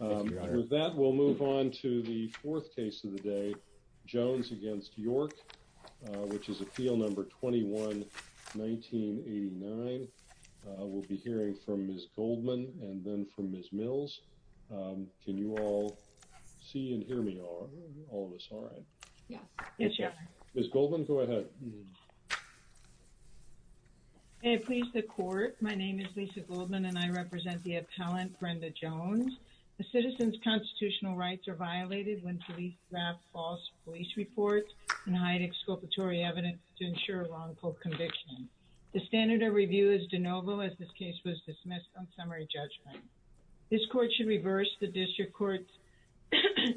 With that, we'll move on to the fourth case of the day, Jones against York, which is appeal number 21-1989. We'll be hearing from Ms. Goldman and then from Ms. Mills. Can you all see and hear me, all of us all right? Yes. Yes, Your Honor. Ms. Goldman, go ahead. May it please the Court, my name is Lisa Goldman and I represent the appellant, Brenda Jones. A citizen's constitutional rights are violated when police draft false police reports and hide exculpatory evidence to ensure wrongful conviction. The standard of review is de novo as this case was dismissed on summary judgment. This Court should reverse the District Court's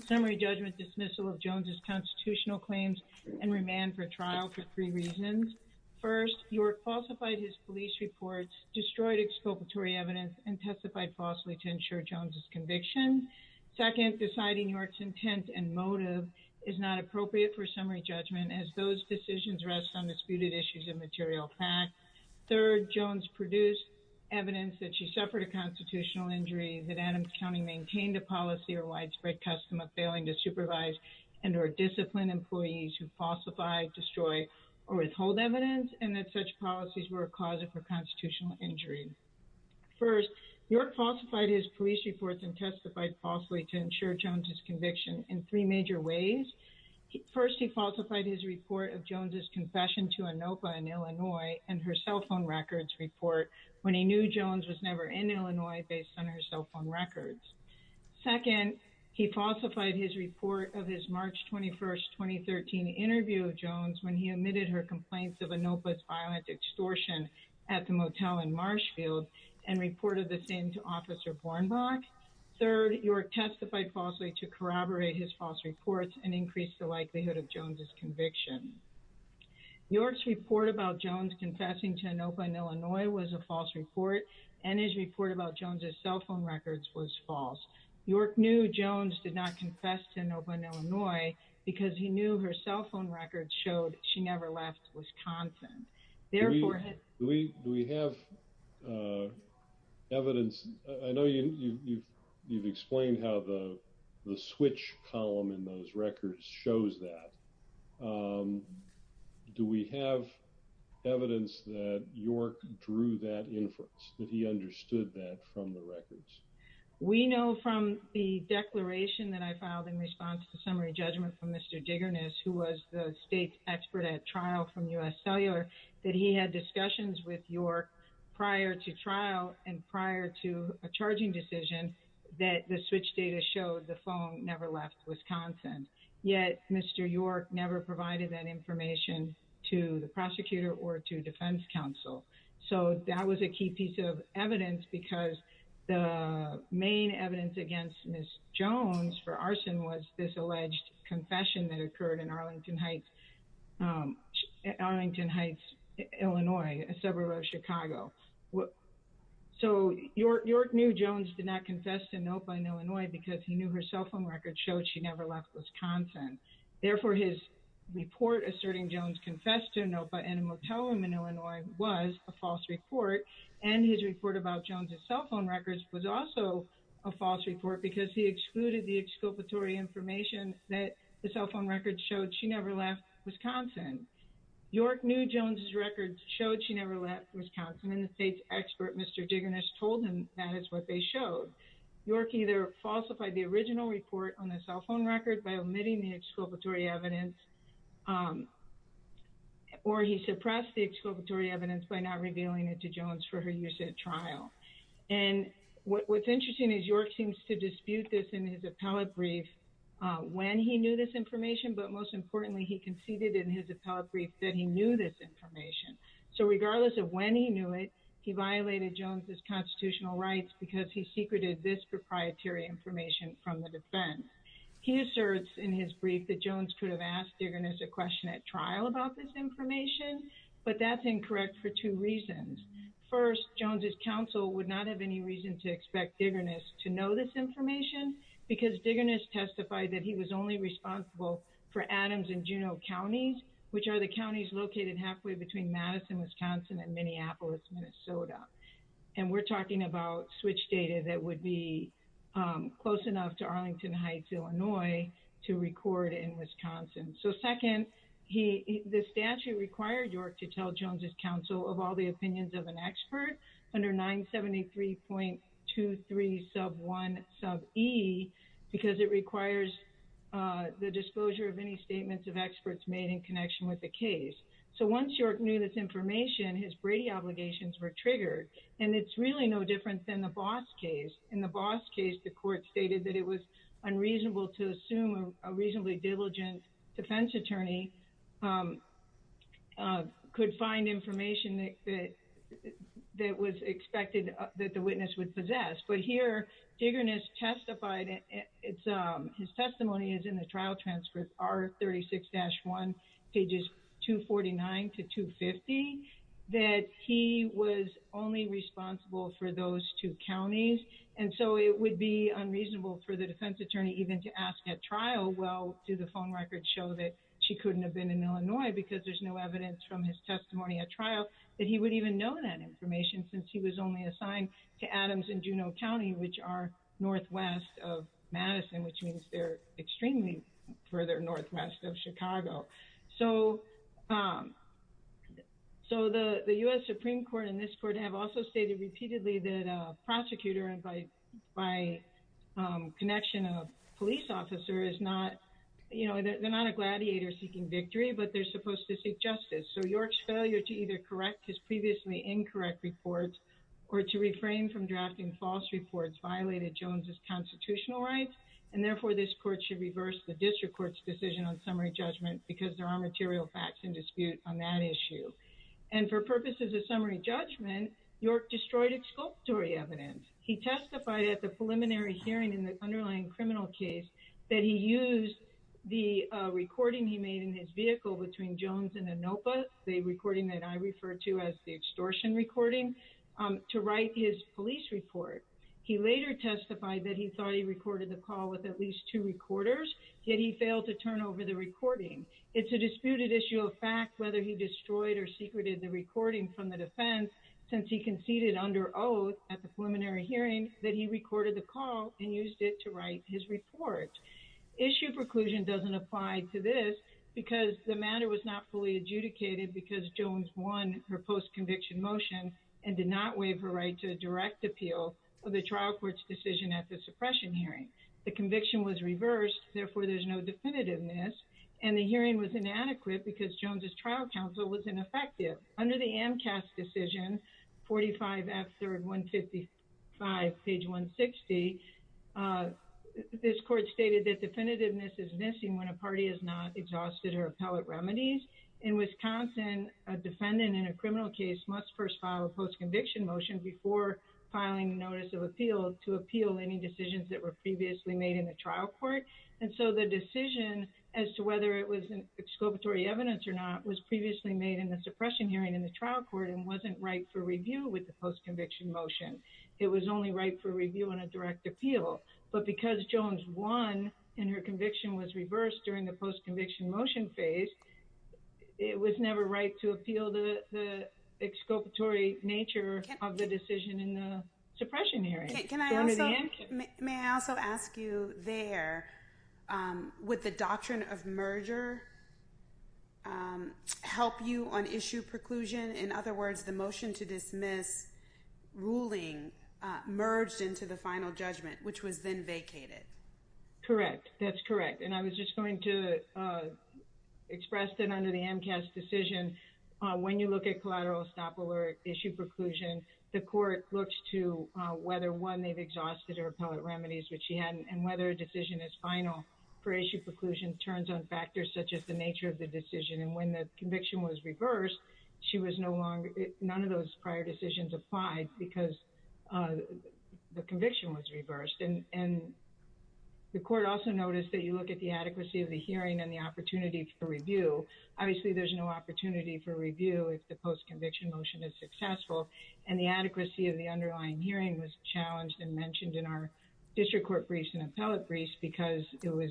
summary judgment dismissal of Jones' constitutional claims and remand for trial for three reasons. First, York falsified his police reports, destroyed exculpatory evidence, and testified falsely to ensure Jones' conviction. Second, deciding York's intent and motive is not appropriate for summary judgment as those decisions rest on disputed issues of material fact. Third, Jones produced evidence that she suffered a constitutional injury, that Adams County maintained a policy or widespread custom of failing to supervise and or discipline employees who falsify, destroy, or withhold evidence, and that such policies were a cause of her constitutional injury. First, York falsified his police reports and testified falsely to ensure Jones' conviction in three major ways. First, he falsified his report of Jones' confession to ANOPA in Illinois and her cell phone records report when he knew Jones was never in Illinois based on her cell phone records. Second, he falsified his report of his March 21, 2013 interview with Jones when he admitted her complaints of ANOPA's violent extortion at the motel in Marshfield and reported the same to Officer Bornbach. Third, York testified falsely to corroborate his false reports and increase the likelihood of Jones' conviction. York's report about Jones confessing to ANOPA in Illinois was a false report, and his report about Jones' cell phone records was false. York knew Jones did not confess to ANOPA in Illinois because he knew her cell phone records showed she never left Wisconsin. Do we have evidence? I know you've explained how the switch column in those records shows that. Do we have evidence that York drew that inference, that he understood that from the records? We know from the declaration that I filed in response to the summary judgment from Mr. Dignanis, who was the state's expert at trial from U.S. Cellular, that he had discussions with York prior to trial and prior to a charging decision that the switch data showed the phone never left Wisconsin. Yet, Mr. York never provided that information to the prosecutor or to defense counsel. So that was a key piece of evidence because the main evidence against Ms. Jones for arson was this alleged confession that occurred in Arlington Heights, Illinois, a suburb of Chicago. So York knew Jones did not confess to ANOPA in Illinois because he knew her cell phone records showed she never left Wisconsin. Therefore, his report asserting Jones confessed to ANOPA in a motel room in Illinois was a false report, and his report about Jones' cell phone records was also a false report because he excluded the exculpatory information that the cell phone records showed she never left Wisconsin. York knew Jones' records showed she never left Wisconsin, and the state's expert, Mr. Dignanis, told him that is what they showed. York either falsified the original report on the cell phone record by omitting the exculpatory evidence, or he suppressed the exculpatory evidence by not revealing it to Jones for her use at trial. And what's interesting is York seems to dispute this in his appellate brief when he knew this information, but most importantly, he conceded in his appellate brief that he knew this information. So regardless of when he knew it, he violated Jones' constitutional rights because he secreted this proprietary information from the defense. He asserts in his brief that Jones could have asked Dignanis a question at trial about this information, but that's incorrect for two reasons. First, Jones' counsel would not have any reason to expect Dignanis to know this information because Dignanis testified that he was only responsible for Adams and Juneau counties, which are the counties located halfway between Madison, Wisconsin, and Minneapolis, Minnesota. And we're talking about switch data that would be close enough to Arlington Heights, Illinois, to record in Wisconsin. So second, the statute required York to tell Jones' counsel of all the opinions of an expert under 973.23 sub 1 sub e because it requires the disclosure of any statements of experts made in connection with the case. So once York knew this information, his Brady obligations were triggered, and it's really no different than the Boss case. In the Boss case, the court stated that it was unreasonable to assume a reasonably diligent defense attorney could find information that was expected that the witness would possess. But here, Dignanis testified, his testimony is in the trial transcript, R36-1, pages 249 to 250, that he was only responsible for those two counties. And so it would be unreasonable for the defense attorney even to ask at trial, well, do the phone records show that she couldn't have been in Illinois because there's no evidence from his testimony at trial that he would even know that information since he was only assigned to Adams and Juneau County, which are northwest of Madison, which means they're extremely further northwest of Chicago. So the U.S. Supreme Court and this court have also stated repeatedly that a prosecutor, and by connection of a police officer, is not, you know, they're not a gladiator seeking victory, but they're supposed to seek justice. So York's failure to either correct his previously incorrect reports or to refrain from drafting false reports violated Jones's constitutional rights, and therefore this court should reverse the district court's decision on summary judgment because there are material facts in dispute on that issue. And for purposes of summary judgment, York destroyed exculpatory evidence. He testified at the preliminary hearing in the underlying criminal case that he used the recording he made in his vehicle between Jones and Inopah, the recording that I refer to as the extortion recording, to write his police report. He later testified that he thought he recorded the call with at least two recorders, yet he failed to turn over the recording. It's a disputed issue of fact whether he destroyed or secreted the recording from the defense since he conceded under oath at the preliminary hearing that he recorded the call and used it to write his report. Issue preclusion doesn't apply to this because the matter was not fully adjudicated because Jones won her post-conviction motion and did not waive her right to direct appeal of the trial court's decision at the suppression hearing. The conviction was reversed, therefore there's no definitiveness, and the hearing was inadequate because Jones's trial counsel was ineffective. Under the AMCAS decision, 45F, third 155, page 160, this court stated that definitiveness is missing when a party is not exhausted her appellate remedies. In Wisconsin, a defendant in a criminal case must first file a post-conviction motion before filing a notice of appeal to appeal any decisions that were previously made in the trial court. And so the decision as to whether it was exculpatory evidence or not was previously made in the suppression hearing in the trial court and wasn't right for review with the post-conviction motion. It was only right for review and a direct appeal. But because Jones won and her conviction was reversed during the post-conviction motion phase, it was never right to appeal the exculpatory nature of the decision in the suppression hearing. May I also ask you there, would the doctrine of merger help you on issue preclusion? In other words, the motion to dismiss ruling merged into the final judgment, which was then vacated. Correct. That's correct. And I was just going to express that under the AMCAS decision, when you look at collateral estoppel or issue preclusion, the court looks to whether one, they've exhausted her appellate remedies, which she hadn't, and whether a decision is final for issue preclusion turns on factors such as the nature of the decision. And when the conviction was reversed, she was no longer, none of those prior decisions applied because the conviction was reversed. And the court also noticed that you look at the adequacy of the hearing and the opportunity for review. Obviously, there's no opportunity for review if the post-conviction motion is successful. And the adequacy of the underlying hearing was challenged and mentioned in our district court briefs and appellate briefs because it was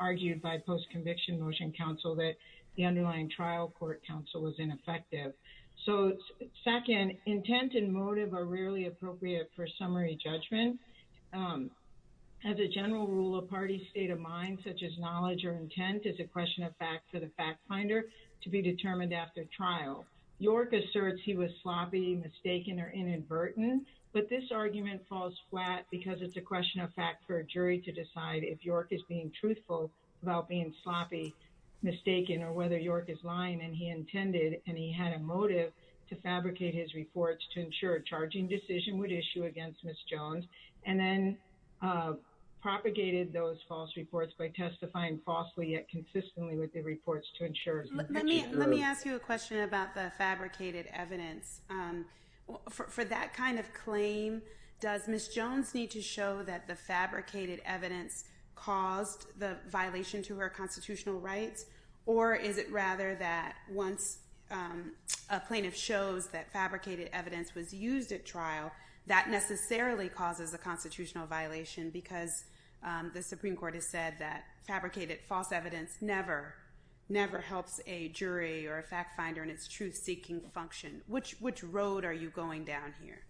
argued by post-conviction motion counsel that the underlying trial court counsel was ineffective. So, second, intent and motive are rarely appropriate for summary judgment. As a general rule, a party's state of mind, such as knowledge or intent, is a question of fact for the fact finder to be determined after trial. York asserts he was sloppy, mistaken, or inadvertent, but this argument falls flat because it's a question of fact for a jury to decide if York is being truthful about being sloppy, mistaken, or whether York is lying. And he intended, and he had a motive, to fabricate his reports to ensure a charging decision would issue against Ms. Jones, and then propagated those false reports by testifying falsely yet consistently with the reports to ensure. Let me ask you a question about the fabricated evidence. For that kind of claim, does Ms. Jones need to show that the fabricated evidence caused the violation to her constitutional rights? Or is it rather that once a plaintiff shows that fabricated evidence was used at trial, that necessarily causes a constitutional violation because the Supreme Court has said that fabricated false evidence never, never helps a jury or a fact finder in its truth-seeking function. Which road are you going down here?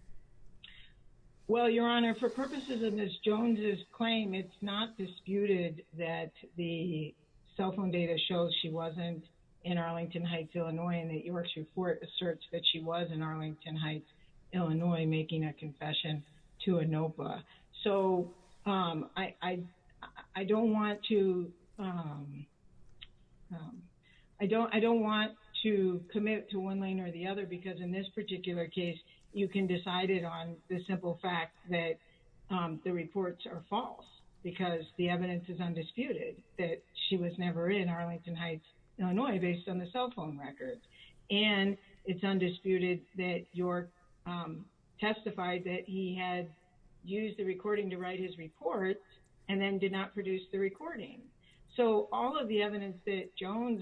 Well, Your Honor, for purposes of Ms. Jones' claim, it's not disputed that the cell phone data shows she wasn't in Arlington Heights, Illinois, and that York's report asserts that she was in Arlington Heights, Illinois, making a confession to ANOPA. So I don't want to commit to one lane or the other, because in this particular case, you can decide it on the simple fact that the reports are false, because the evidence is undisputed that she was never in Arlington Heights, Illinois, based on the cell phone records. And it's undisputed that York testified that he had used the recording to write his report and then did not produce the recording. So all of the evidence that Jones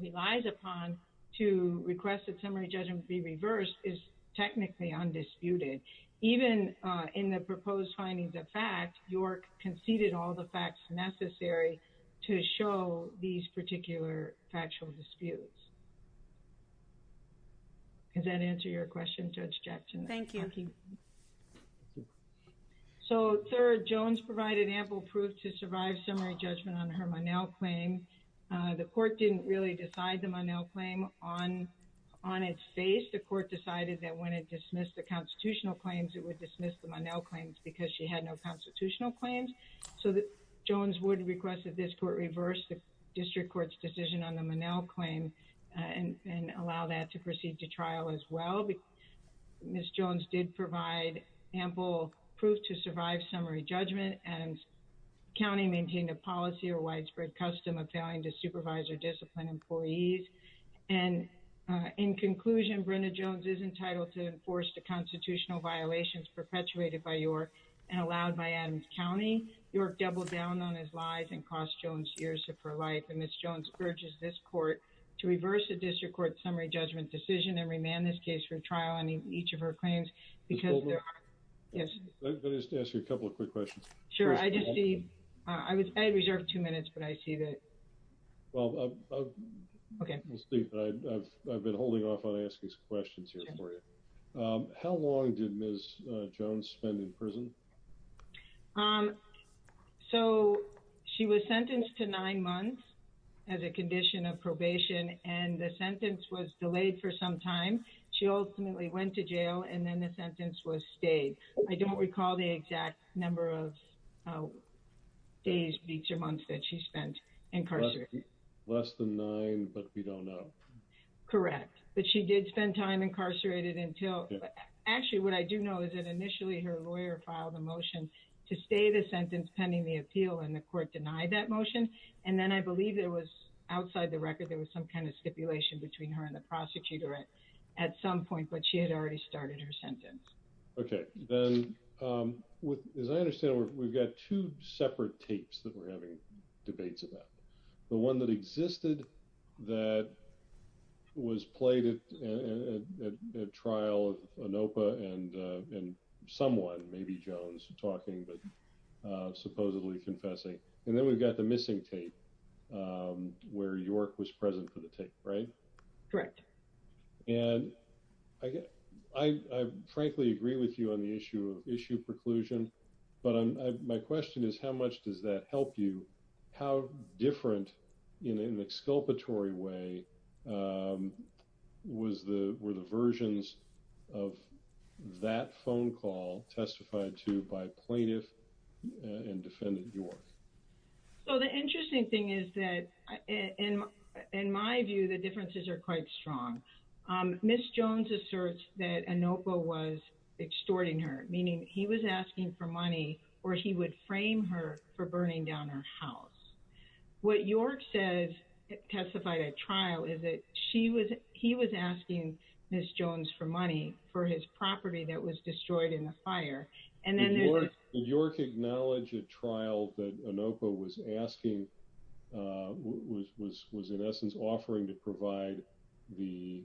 relies upon to request that summary judgment be reversed is technically undisputed. Even in the proposed findings of fact, York conceded all the facts necessary to show these particular factual disputes. Does that answer your question, Judge Jackson? Thank you. So third, Jones provided ample proof to survive summary judgment on her Monell claim. The court didn't really decide the Monell claim on its face. The court decided that when it dismissed the constitutional claims, it would dismiss the Monell claims because she had no constitutional claims. So Jones would request that this court reverse the district court's decision on the Monell claim and allow that to proceed to trial as well. Ms. Jones did provide ample proof to survive summary judgment. Adams County maintained a policy or widespread custom of failing to supervise or discipline employees. And in conclusion, Brenda Jones is entitled to enforce the constitutional violations perpetuated by York and allowed by Adams County. York doubled down on his lies and cost Jones years of her life. And Ms. Jones urges this court to reverse the district court's summary judgment decision and remand this case for trial on each of her claims because there are... Can I just ask you a couple of quick questions? Sure. I reserve two minutes, but I see that... Well, I've been holding off on asking questions here for you. So she was sentenced to nine months as a condition of probation and the sentence was delayed for some time. She ultimately went to jail and then the sentence was stayed. I don't recall the exact number of days, weeks or months that she spent incarcerated. Less than nine, but we don't know. Correct. But she did spend time incarcerated until... To stay the sentence pending the appeal and the court denied that motion. And then I believe it was outside the record. There was some kind of stipulation between her and the prosecutor at some point, but she had already started her sentence. Okay. As I understand, we've got two separate tapes that we're having debates about. The one that existed that was played at trial of ANOPA and someone, maybe Jones talking, but supposedly confessing. And then we've got the missing tape where York was present for the tape, right? Correct. And I frankly agree with you on the issue of issue preclusion. But my question is, how much does that help you? How different in an exculpatory way were the versions of that phone call testified to by plaintiff and defendant York? So the interesting thing is that in my view, the differences are quite strong. Ms. Jones asserts that ANOPA was extorting her, meaning he was asking for money or he would frame her for burning down her house. What York says testified at trial is that he was asking Ms. Jones for money for his property that was destroyed in the fire. Did York acknowledge at trial that ANOPA was asking, was in essence offering to provide the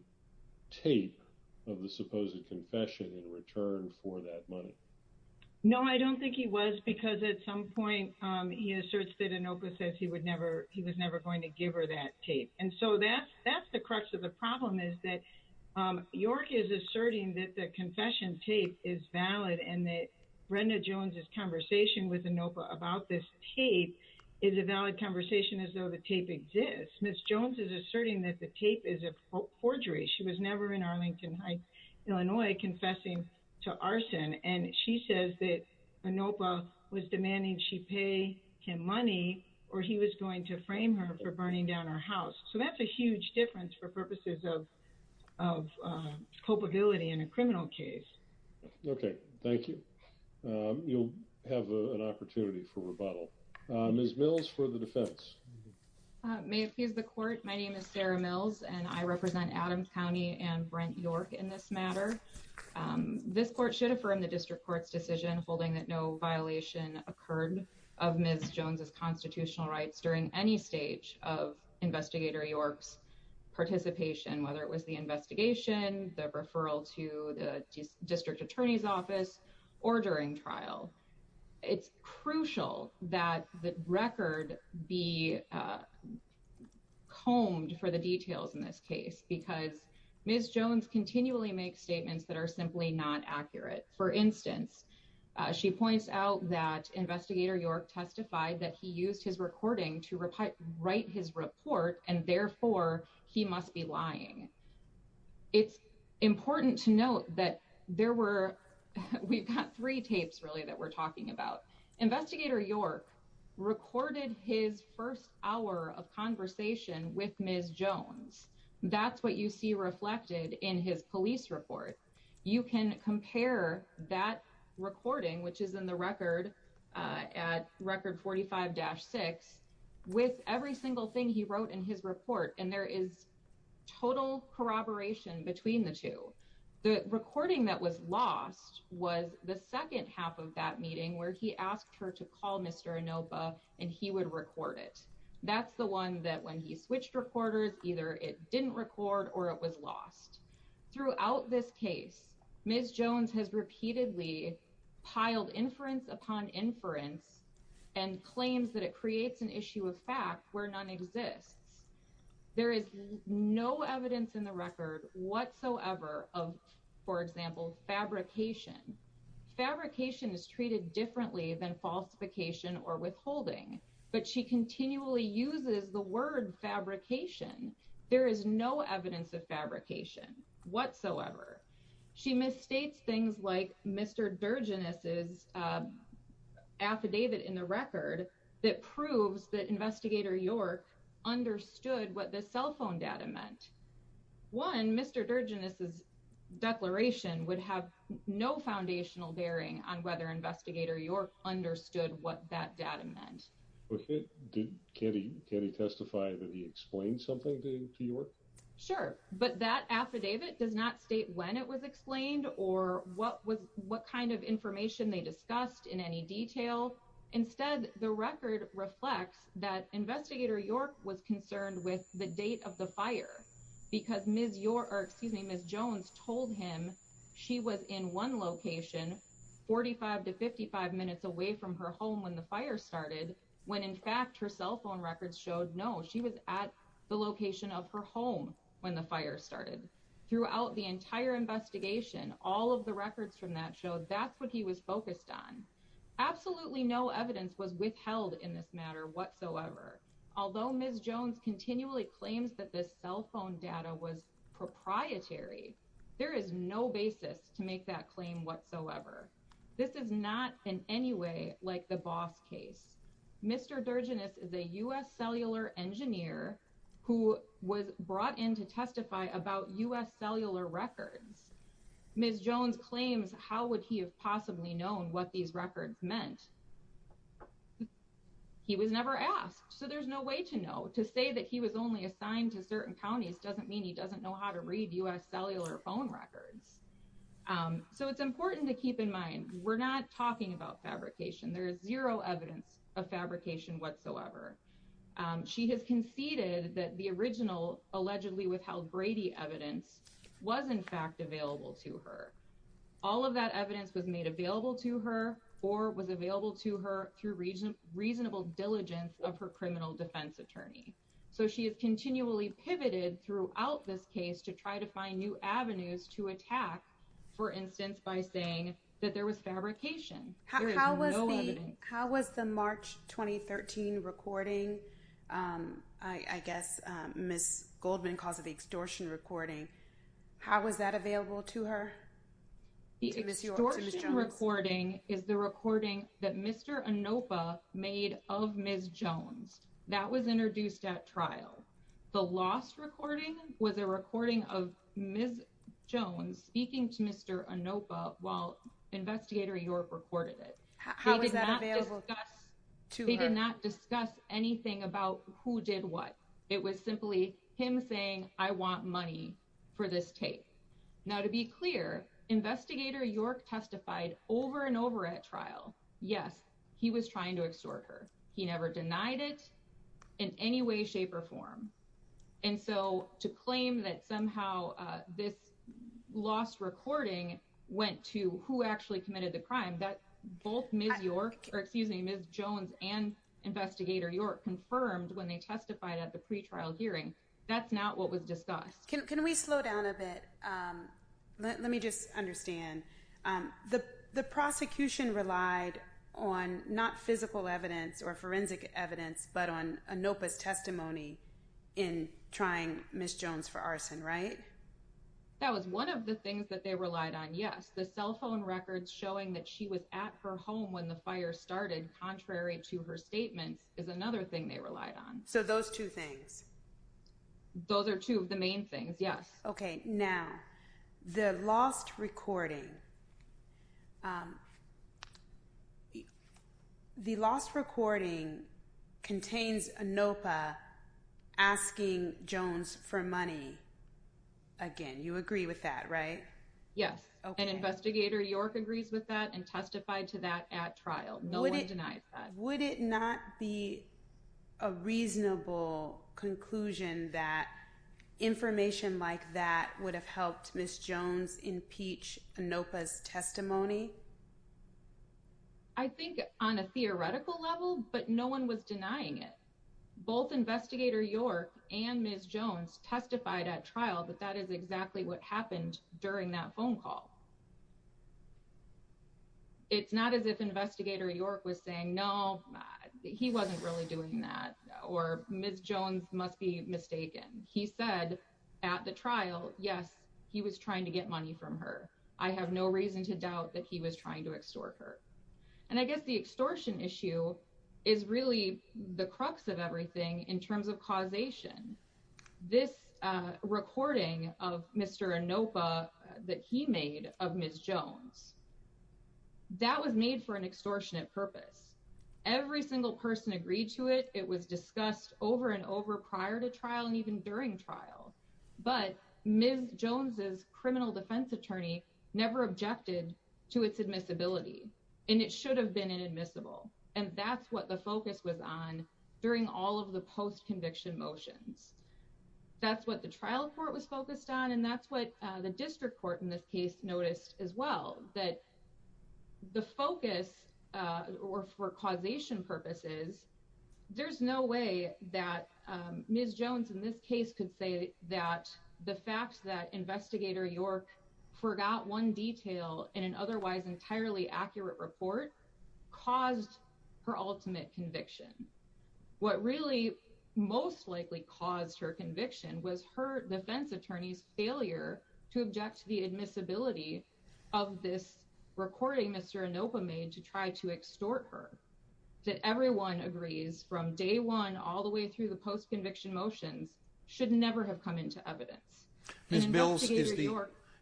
tape of the supposed confession in return for that money? No, I don't think he was because at some point he asserts that ANOPA says he was never going to give her that tape. And so that's the crux of the problem is that York is asserting that the confession tape is valid and that Brenda Jones' conversation with ANOPA about this tape is a valid conversation as though the tape exists. Ms. Jones is asserting that the tape is a forgery. She was never in Arlington Heights, Illinois, confessing to arson. And she says that ANOPA was demanding she pay him money or he was going to frame her for burning down her house. So that's a huge difference for purposes of culpability in a criminal case. Okay, thank you. You'll have an opportunity for rebuttal. Ms. Mills for the defense. May it please the court. My name is Sarah Mills and I represent Adams County and Brent York in this matter. This court should affirm the district court's decision holding that no violation occurred of Ms. Jones' constitutional rights during any stage of Investigator York's participation, whether it was the investigation, the referral to the district attorney's office, or during trial. It's crucial that the record be combed for the details in this case because Ms. Jones continually makes statements that are simply not accurate. For instance, she points out that Investigator York testified that he used his recording to write his report and therefore he must be lying. It's important to note that there were, we've got three tapes really that we're talking about. Investigator York recorded his first hour of conversation with Ms. Jones. That's what you see reflected in his police report. You can compare that recording, which is in the record at record 45-6, with every single thing he wrote in his report and there is total corroboration between the two. The recording that was lost was the second half of that meeting where he asked her to call Mr. Anopa and he would record it. That's the one that when he switched recorders, either it didn't record or it was lost. Throughout this case, Ms. Jones has repeatedly piled inference upon inference and claims that it creates an issue of fact where none exists. There is no evidence in the record whatsoever of, for example, fabrication. Fabrication is treated differently than falsification or withholding, but she continually uses the word fabrication. There is no evidence of fabrication whatsoever. She misstates things like Mr. Durginous' affidavit in the record that proves that Investigator York understood what the cell phone data meant. One, Mr. Durginous' declaration would have no foundational bearing on whether Investigator York understood what that data meant. Can he testify that he explained something to York? Sure, but that affidavit does not state when it was explained or what kind of information they discussed in any detail. Instead, the record reflects that Investigator York was concerned with the date of the fire. Because Ms. Jones told him she was in one location, 45 to 55 minutes away from her home when the fire started, when in fact her cell phone records showed no, she was at the location of her home when the fire started. Throughout the entire investigation, all of the records from that show that's what he was focused on. Absolutely no evidence was withheld in this matter whatsoever. Although Ms. Jones continually claims that this cell phone data was proprietary, there is no basis to make that claim whatsoever. This is not in any way like the Boss case. Mr. Durginous is a U.S. cellular engineer who was brought in to testify about U.S. cellular records. Ms. Jones claims how would he have possibly known what these records meant? He was never asked, so there's no way to know. To say that he was only assigned to certain counties doesn't mean he doesn't know how to read U.S. cellular phone records. So it's important to keep in mind, we're not talking about fabrication. There is zero evidence of fabrication whatsoever. She has conceded that the original allegedly withheld Brady evidence was in fact available to her. All of that evidence was made available to her or was available to her through reasonable diligence of her criminal defense attorney. So she has continually pivoted throughout this case to try to find new avenues to attack. For instance, by saying that there was fabrication. How was the March 2013 recording? I guess Ms. Goldman calls it the extortion recording. How was that available to her? The extortion recording is the recording that Mr. Anopa made of Ms. Jones. That was introduced at trial. The lost recording was a recording of Ms. Jones speaking to Mr. Anopa while Investigator York recorded it. How was that available to her? They did not discuss anything about who did what. It was simply him saying I want money for this tape. Now to be clear, Investigator York testified over and over at trial. Yes, he was trying to extort her. He never denied it in any way, shape, or form. To claim that somehow this lost recording went to who actually committed the crime, both Ms. Jones and Investigator York confirmed when they testified at the pre-trial hearing. That's not what was discussed. Can we slow down a bit? Let me just understand. The prosecution relied on not physical evidence or forensic evidence, but on Anopa's testimony in trying Ms. Jones for arson, right? That was one of the things that they relied on, yes. The cell phone records showing that she was at her home when the fire started, contrary to her statements, is another thing they relied on. So those two things? Those are two of the main things, yes. Okay, now the lost recording. The lost recording contains Anopa asking Jones for money. Again, you agree with that, right? Yes, and Investigator York agrees with that and testified to that at trial. No one denies that. Would it not be a reasonable conclusion that information like that would have helped Ms. Jones impeach Anopa's testimony? I think on a theoretical level, but no one was denying it. Both Investigator York and Ms. Jones testified at trial that that is exactly what happened during that phone call. It's not as if Investigator York was saying, no, he wasn't really doing that, or Ms. Jones must be mistaken. He said at the trial, yes, he was trying to get money from her. I have no reason to doubt that he was trying to extort her. And I guess the extortion issue is really the crux of everything in terms of causation. This recording of Mr. Anopa that he made of Ms. Jones, that was made for an extortionate purpose. Every single person agreed to it. It was discussed over and over prior to trial and even during trial. But Ms. Jones's criminal defense attorney never objected to its admissibility, and it should have been inadmissible. And that's what the focus was on during all of the post-conviction motions. That's what the trial court was focused on, and that's what the district court in this case noticed as well, that the focus for causation purposes, there's no way that Ms. Jones in this case could say that the fact that Investigator York forgot one detail in an otherwise entirely accurate report caused her ultimate conviction. What really most likely caused her conviction was her defense attorney's failure to object to the admissibility of this recording Mr. Anopa made to try to extort her. That everyone agrees from day one all the way through the post-conviction motions should never have come into evidence. Ms. Mills,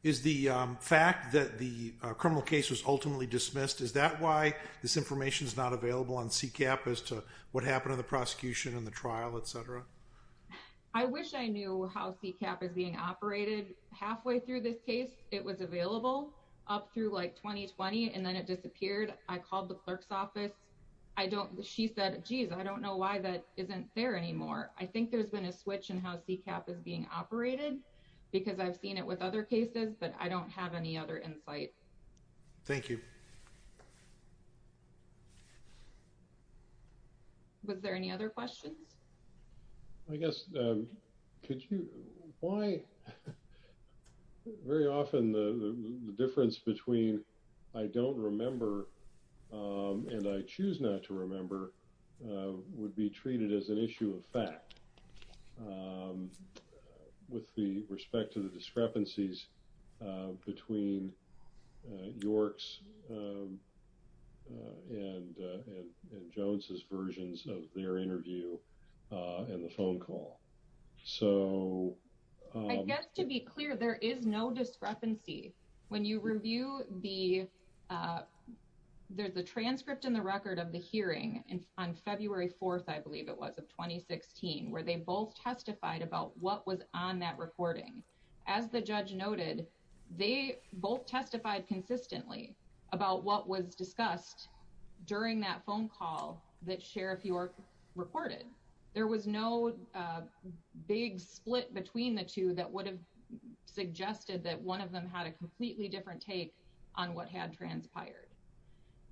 is the fact that the criminal case was ultimately dismissed, is that why this information is not available on CCAP as to what happened in the prosecution and the trial, etc.? I wish I knew how CCAP is being operated. Halfway through this case, it was available up through like 2020, and then it disappeared. I called the clerk's office. She said, geez, I don't know why that isn't there anymore. I think there's been a switch in how CCAP is being operated because I've seen it with other cases, but I don't have any other insight. Thank you. Was there any other questions? I guess could you why very often the difference between I don't remember and I choose not to remember would be treated as an issue of fact. With the respect to the discrepancies between York's and Jones's versions of their interview and the phone call. So I guess to be clear, there is no discrepancy. When you review the, there's a transcript in the record of the hearing on February 4th, I believe it was, of 2016, where they both testified about what was on that recording. As the judge noted, they both testified consistently about what was discussed during that phone call that Sheriff York reported. There was no big split between the two that would have suggested that one of them had a completely different take on what had transpired.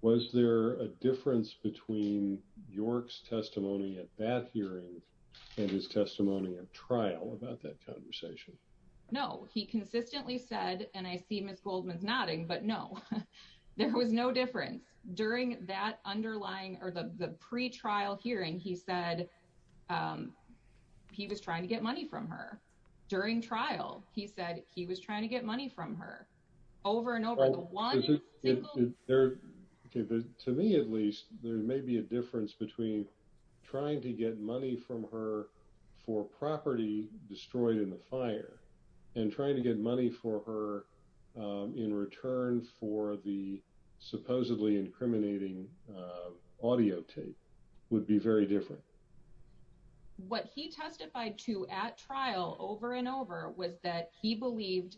Was there a difference between York's testimony at that hearing and his testimony of trial about that conversation? No, he consistently said, and I see Ms. Goldman's nodding, but no, there was no difference. During that underlying or the pre-trial hearing, he said he was trying to get money from her. During trial, he said he was trying to get money from her. To me, at least, there may be a difference between trying to get money from her for property destroyed in the fire and trying to get money for her in return for the supposedly incriminating audio tape would be very different. What he testified to at trial over and over was that he believed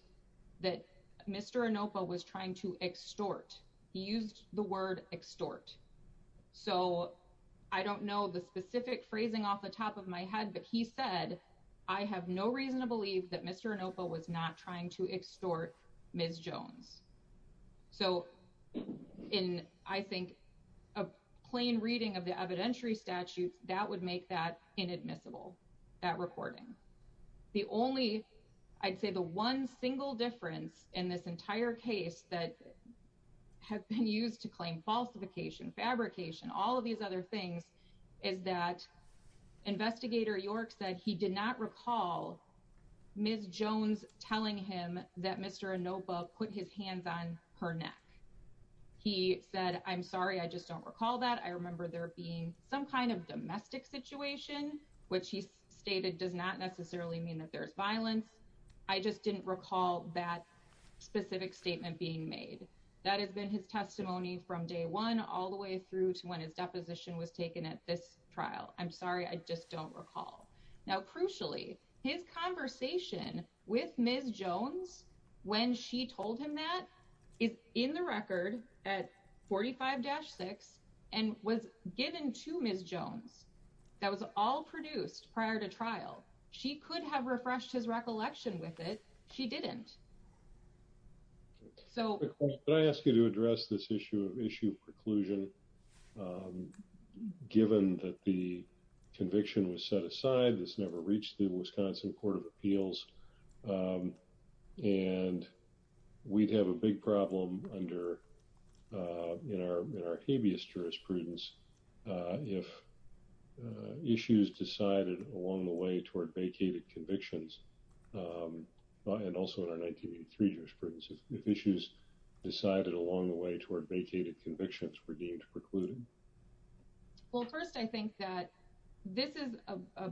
that Mr. Anoppa was trying to extort. He used the word extort. So I don't know the specific phrasing off the top of my head, but he said, I have no reason to believe that Mr. Anoppa was not trying to extort Ms. Jones. So in, I think, a plain reading of the evidentiary statutes, that would make that inadmissible, that recording. The only, I'd say the one single difference in this entire case that has been used to claim falsification, fabrication, all of these other things is that Investigator York said he did not recall Ms. Jones telling him that Mr. Anoppa put his hands on her neck. He said, I'm sorry, I just don't recall that. I remember there being some kind of domestic situation, which he stated does not necessarily mean that there's violence. I just didn't recall that specific statement being made. That has been his testimony from day one all the way through to when his deposition was taken at this trial. I'm sorry, I just don't recall. Now, crucially, his conversation with Ms. Jones when she told him that is in the record at 45-6 and was given to Ms. Jones. That was all produced prior to trial. She could have refreshed his recollection with it. She didn't. Can I ask you to address this issue of preclusion, given that the conviction was set aside, this never reached the Wisconsin Court of Appeals, and we'd have a big problem in our habeas jurisprudence if issues decided along the way toward vacated convictions, and also in our 1983 jurisprudence, if issues decided along the way toward vacated convictions were deemed precluded? Well, first, I think that this is a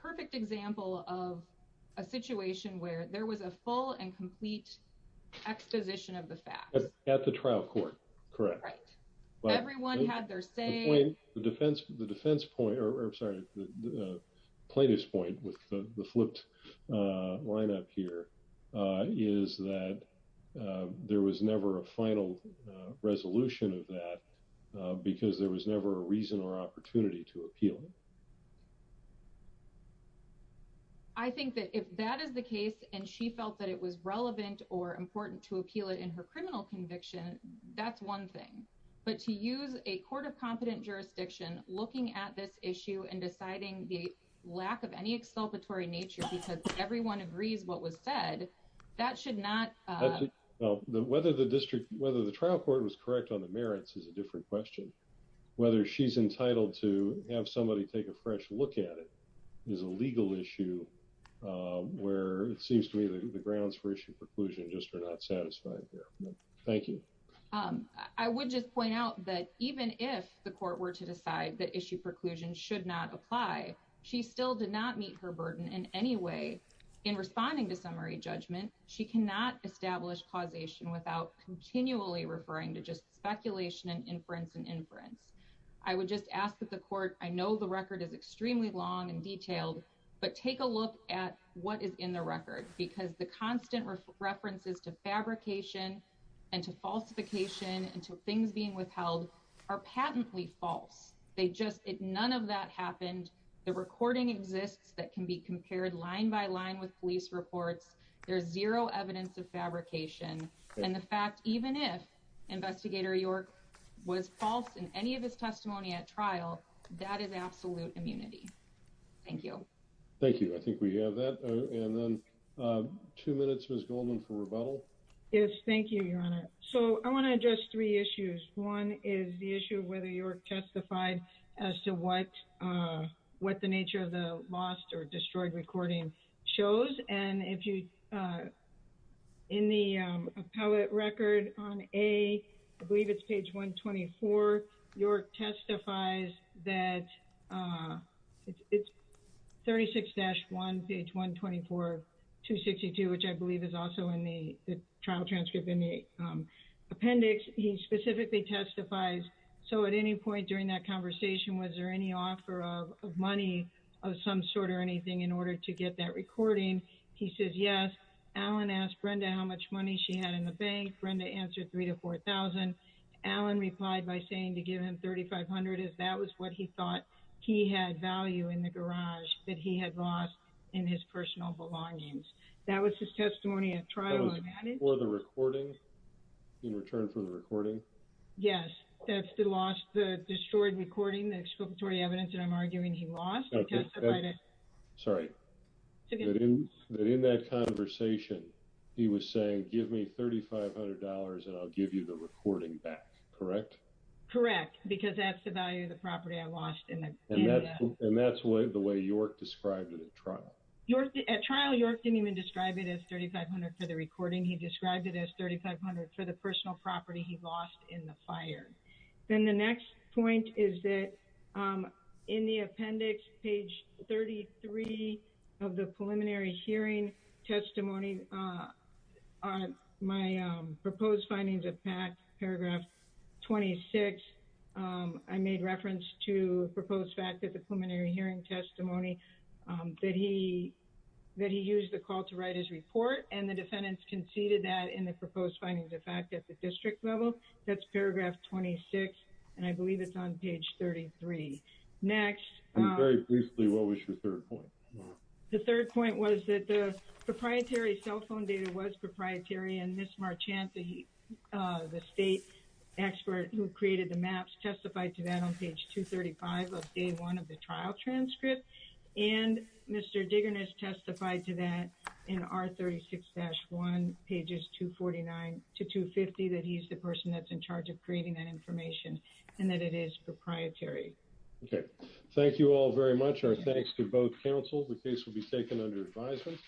perfect example of a situation where there was a full and complete exposition of the facts. At the trial court, correct. Everyone had their say. The plaintiff's point with the flipped lineup here is that there was never a final resolution of that because there was never a reason or opportunity to appeal it. I think that if that is the case and she felt that it was relevant or important to appeal it in her criminal conviction, that's one thing. But to use a court of competent jurisdiction looking at this issue and deciding the lack of any exculpatory nature because everyone agrees what was said, that should not... Whether the trial court was correct on the merits is a different question. Whether she's entitled to have somebody take a fresh look at it is a legal issue where it seems to me the grounds for issue preclusion just are not satisfied here. Thank you. I would just point out that even if the court were to decide that issue preclusion should not apply, she still did not meet her burden in any way. In responding to summary judgment, she cannot establish causation without continually referring to just speculation and inference and inference. I would just ask that the court... I know the record is extremely long and detailed, but take a look at what is in the record because the constant references to fabrication and to falsification and to things being withheld are patently false. None of that happened. The recording exists that can be compared line by line with police reports. There's zero evidence of fabrication. And the fact, even if Investigator York was false in any of his testimony at trial, that is absolute immunity. Thank you. Thank you. I think we have that. And then two minutes, Ms. Goldman, for rebuttal. Yes, thank you, Your Honor. So I want to address three issues. One is the issue of whether York testified as to what the nature of the lost or destroyed recording shows. And in the appellate record on A, I believe it's page 124, York testifies that it's 36-1, page 124, 262, which I believe is also in the trial transcript in the appendix. He specifically testifies, so at any point during that conversation, was there any offer of money of some sort or anything in order to get that recording? He says, yes. Alan asked Brenda how much money she had in the bank. Brenda answered $3,000 to $4,000. Alan replied by saying to give him $3,500 if that was what he thought he had value in the garage that he had lost in his personal belongings. That was his testimony at trial. That was for the recording? In return for the recording? Yes. That's the lost, the destroyed recording, the exculpatory evidence that I'm arguing he lost. Okay. Sorry. That in that conversation, he was saying, give me $3,500 and I'll give you the recording back, correct? Correct, because that's the value of the property I lost in the garage. And that's the way York described it at trial. At trial, York didn't even describe it as $3,500 for the recording. He described it as $3,500 for the personal property he lost in the fire. Then the next point is that in the appendix, page 33 of the preliminary hearing testimony, my proposed findings of paragraph 26, I made reference to a proposed fact at the preliminary hearing testimony that he used the call to write his report, and the defendants conceded that in the proposed findings of fact at the district level. That's paragraph 26, and I believe it's on page 33. Next. I'm very pleased, Lee, what was your third point? The third point was that the proprietary cell phone data was proprietary, and Ms. Marchanti, the state expert who created the maps, testified to that on page 235 of day one of the trial transcript. And Mr. Diggerness testified to that in R36-1, pages 249 to 250, that he's the person that's in charge of creating that information, and that it is proprietary. Okay. Thank you all very much. Our thanks to both counsels. The case will be taken under advisement.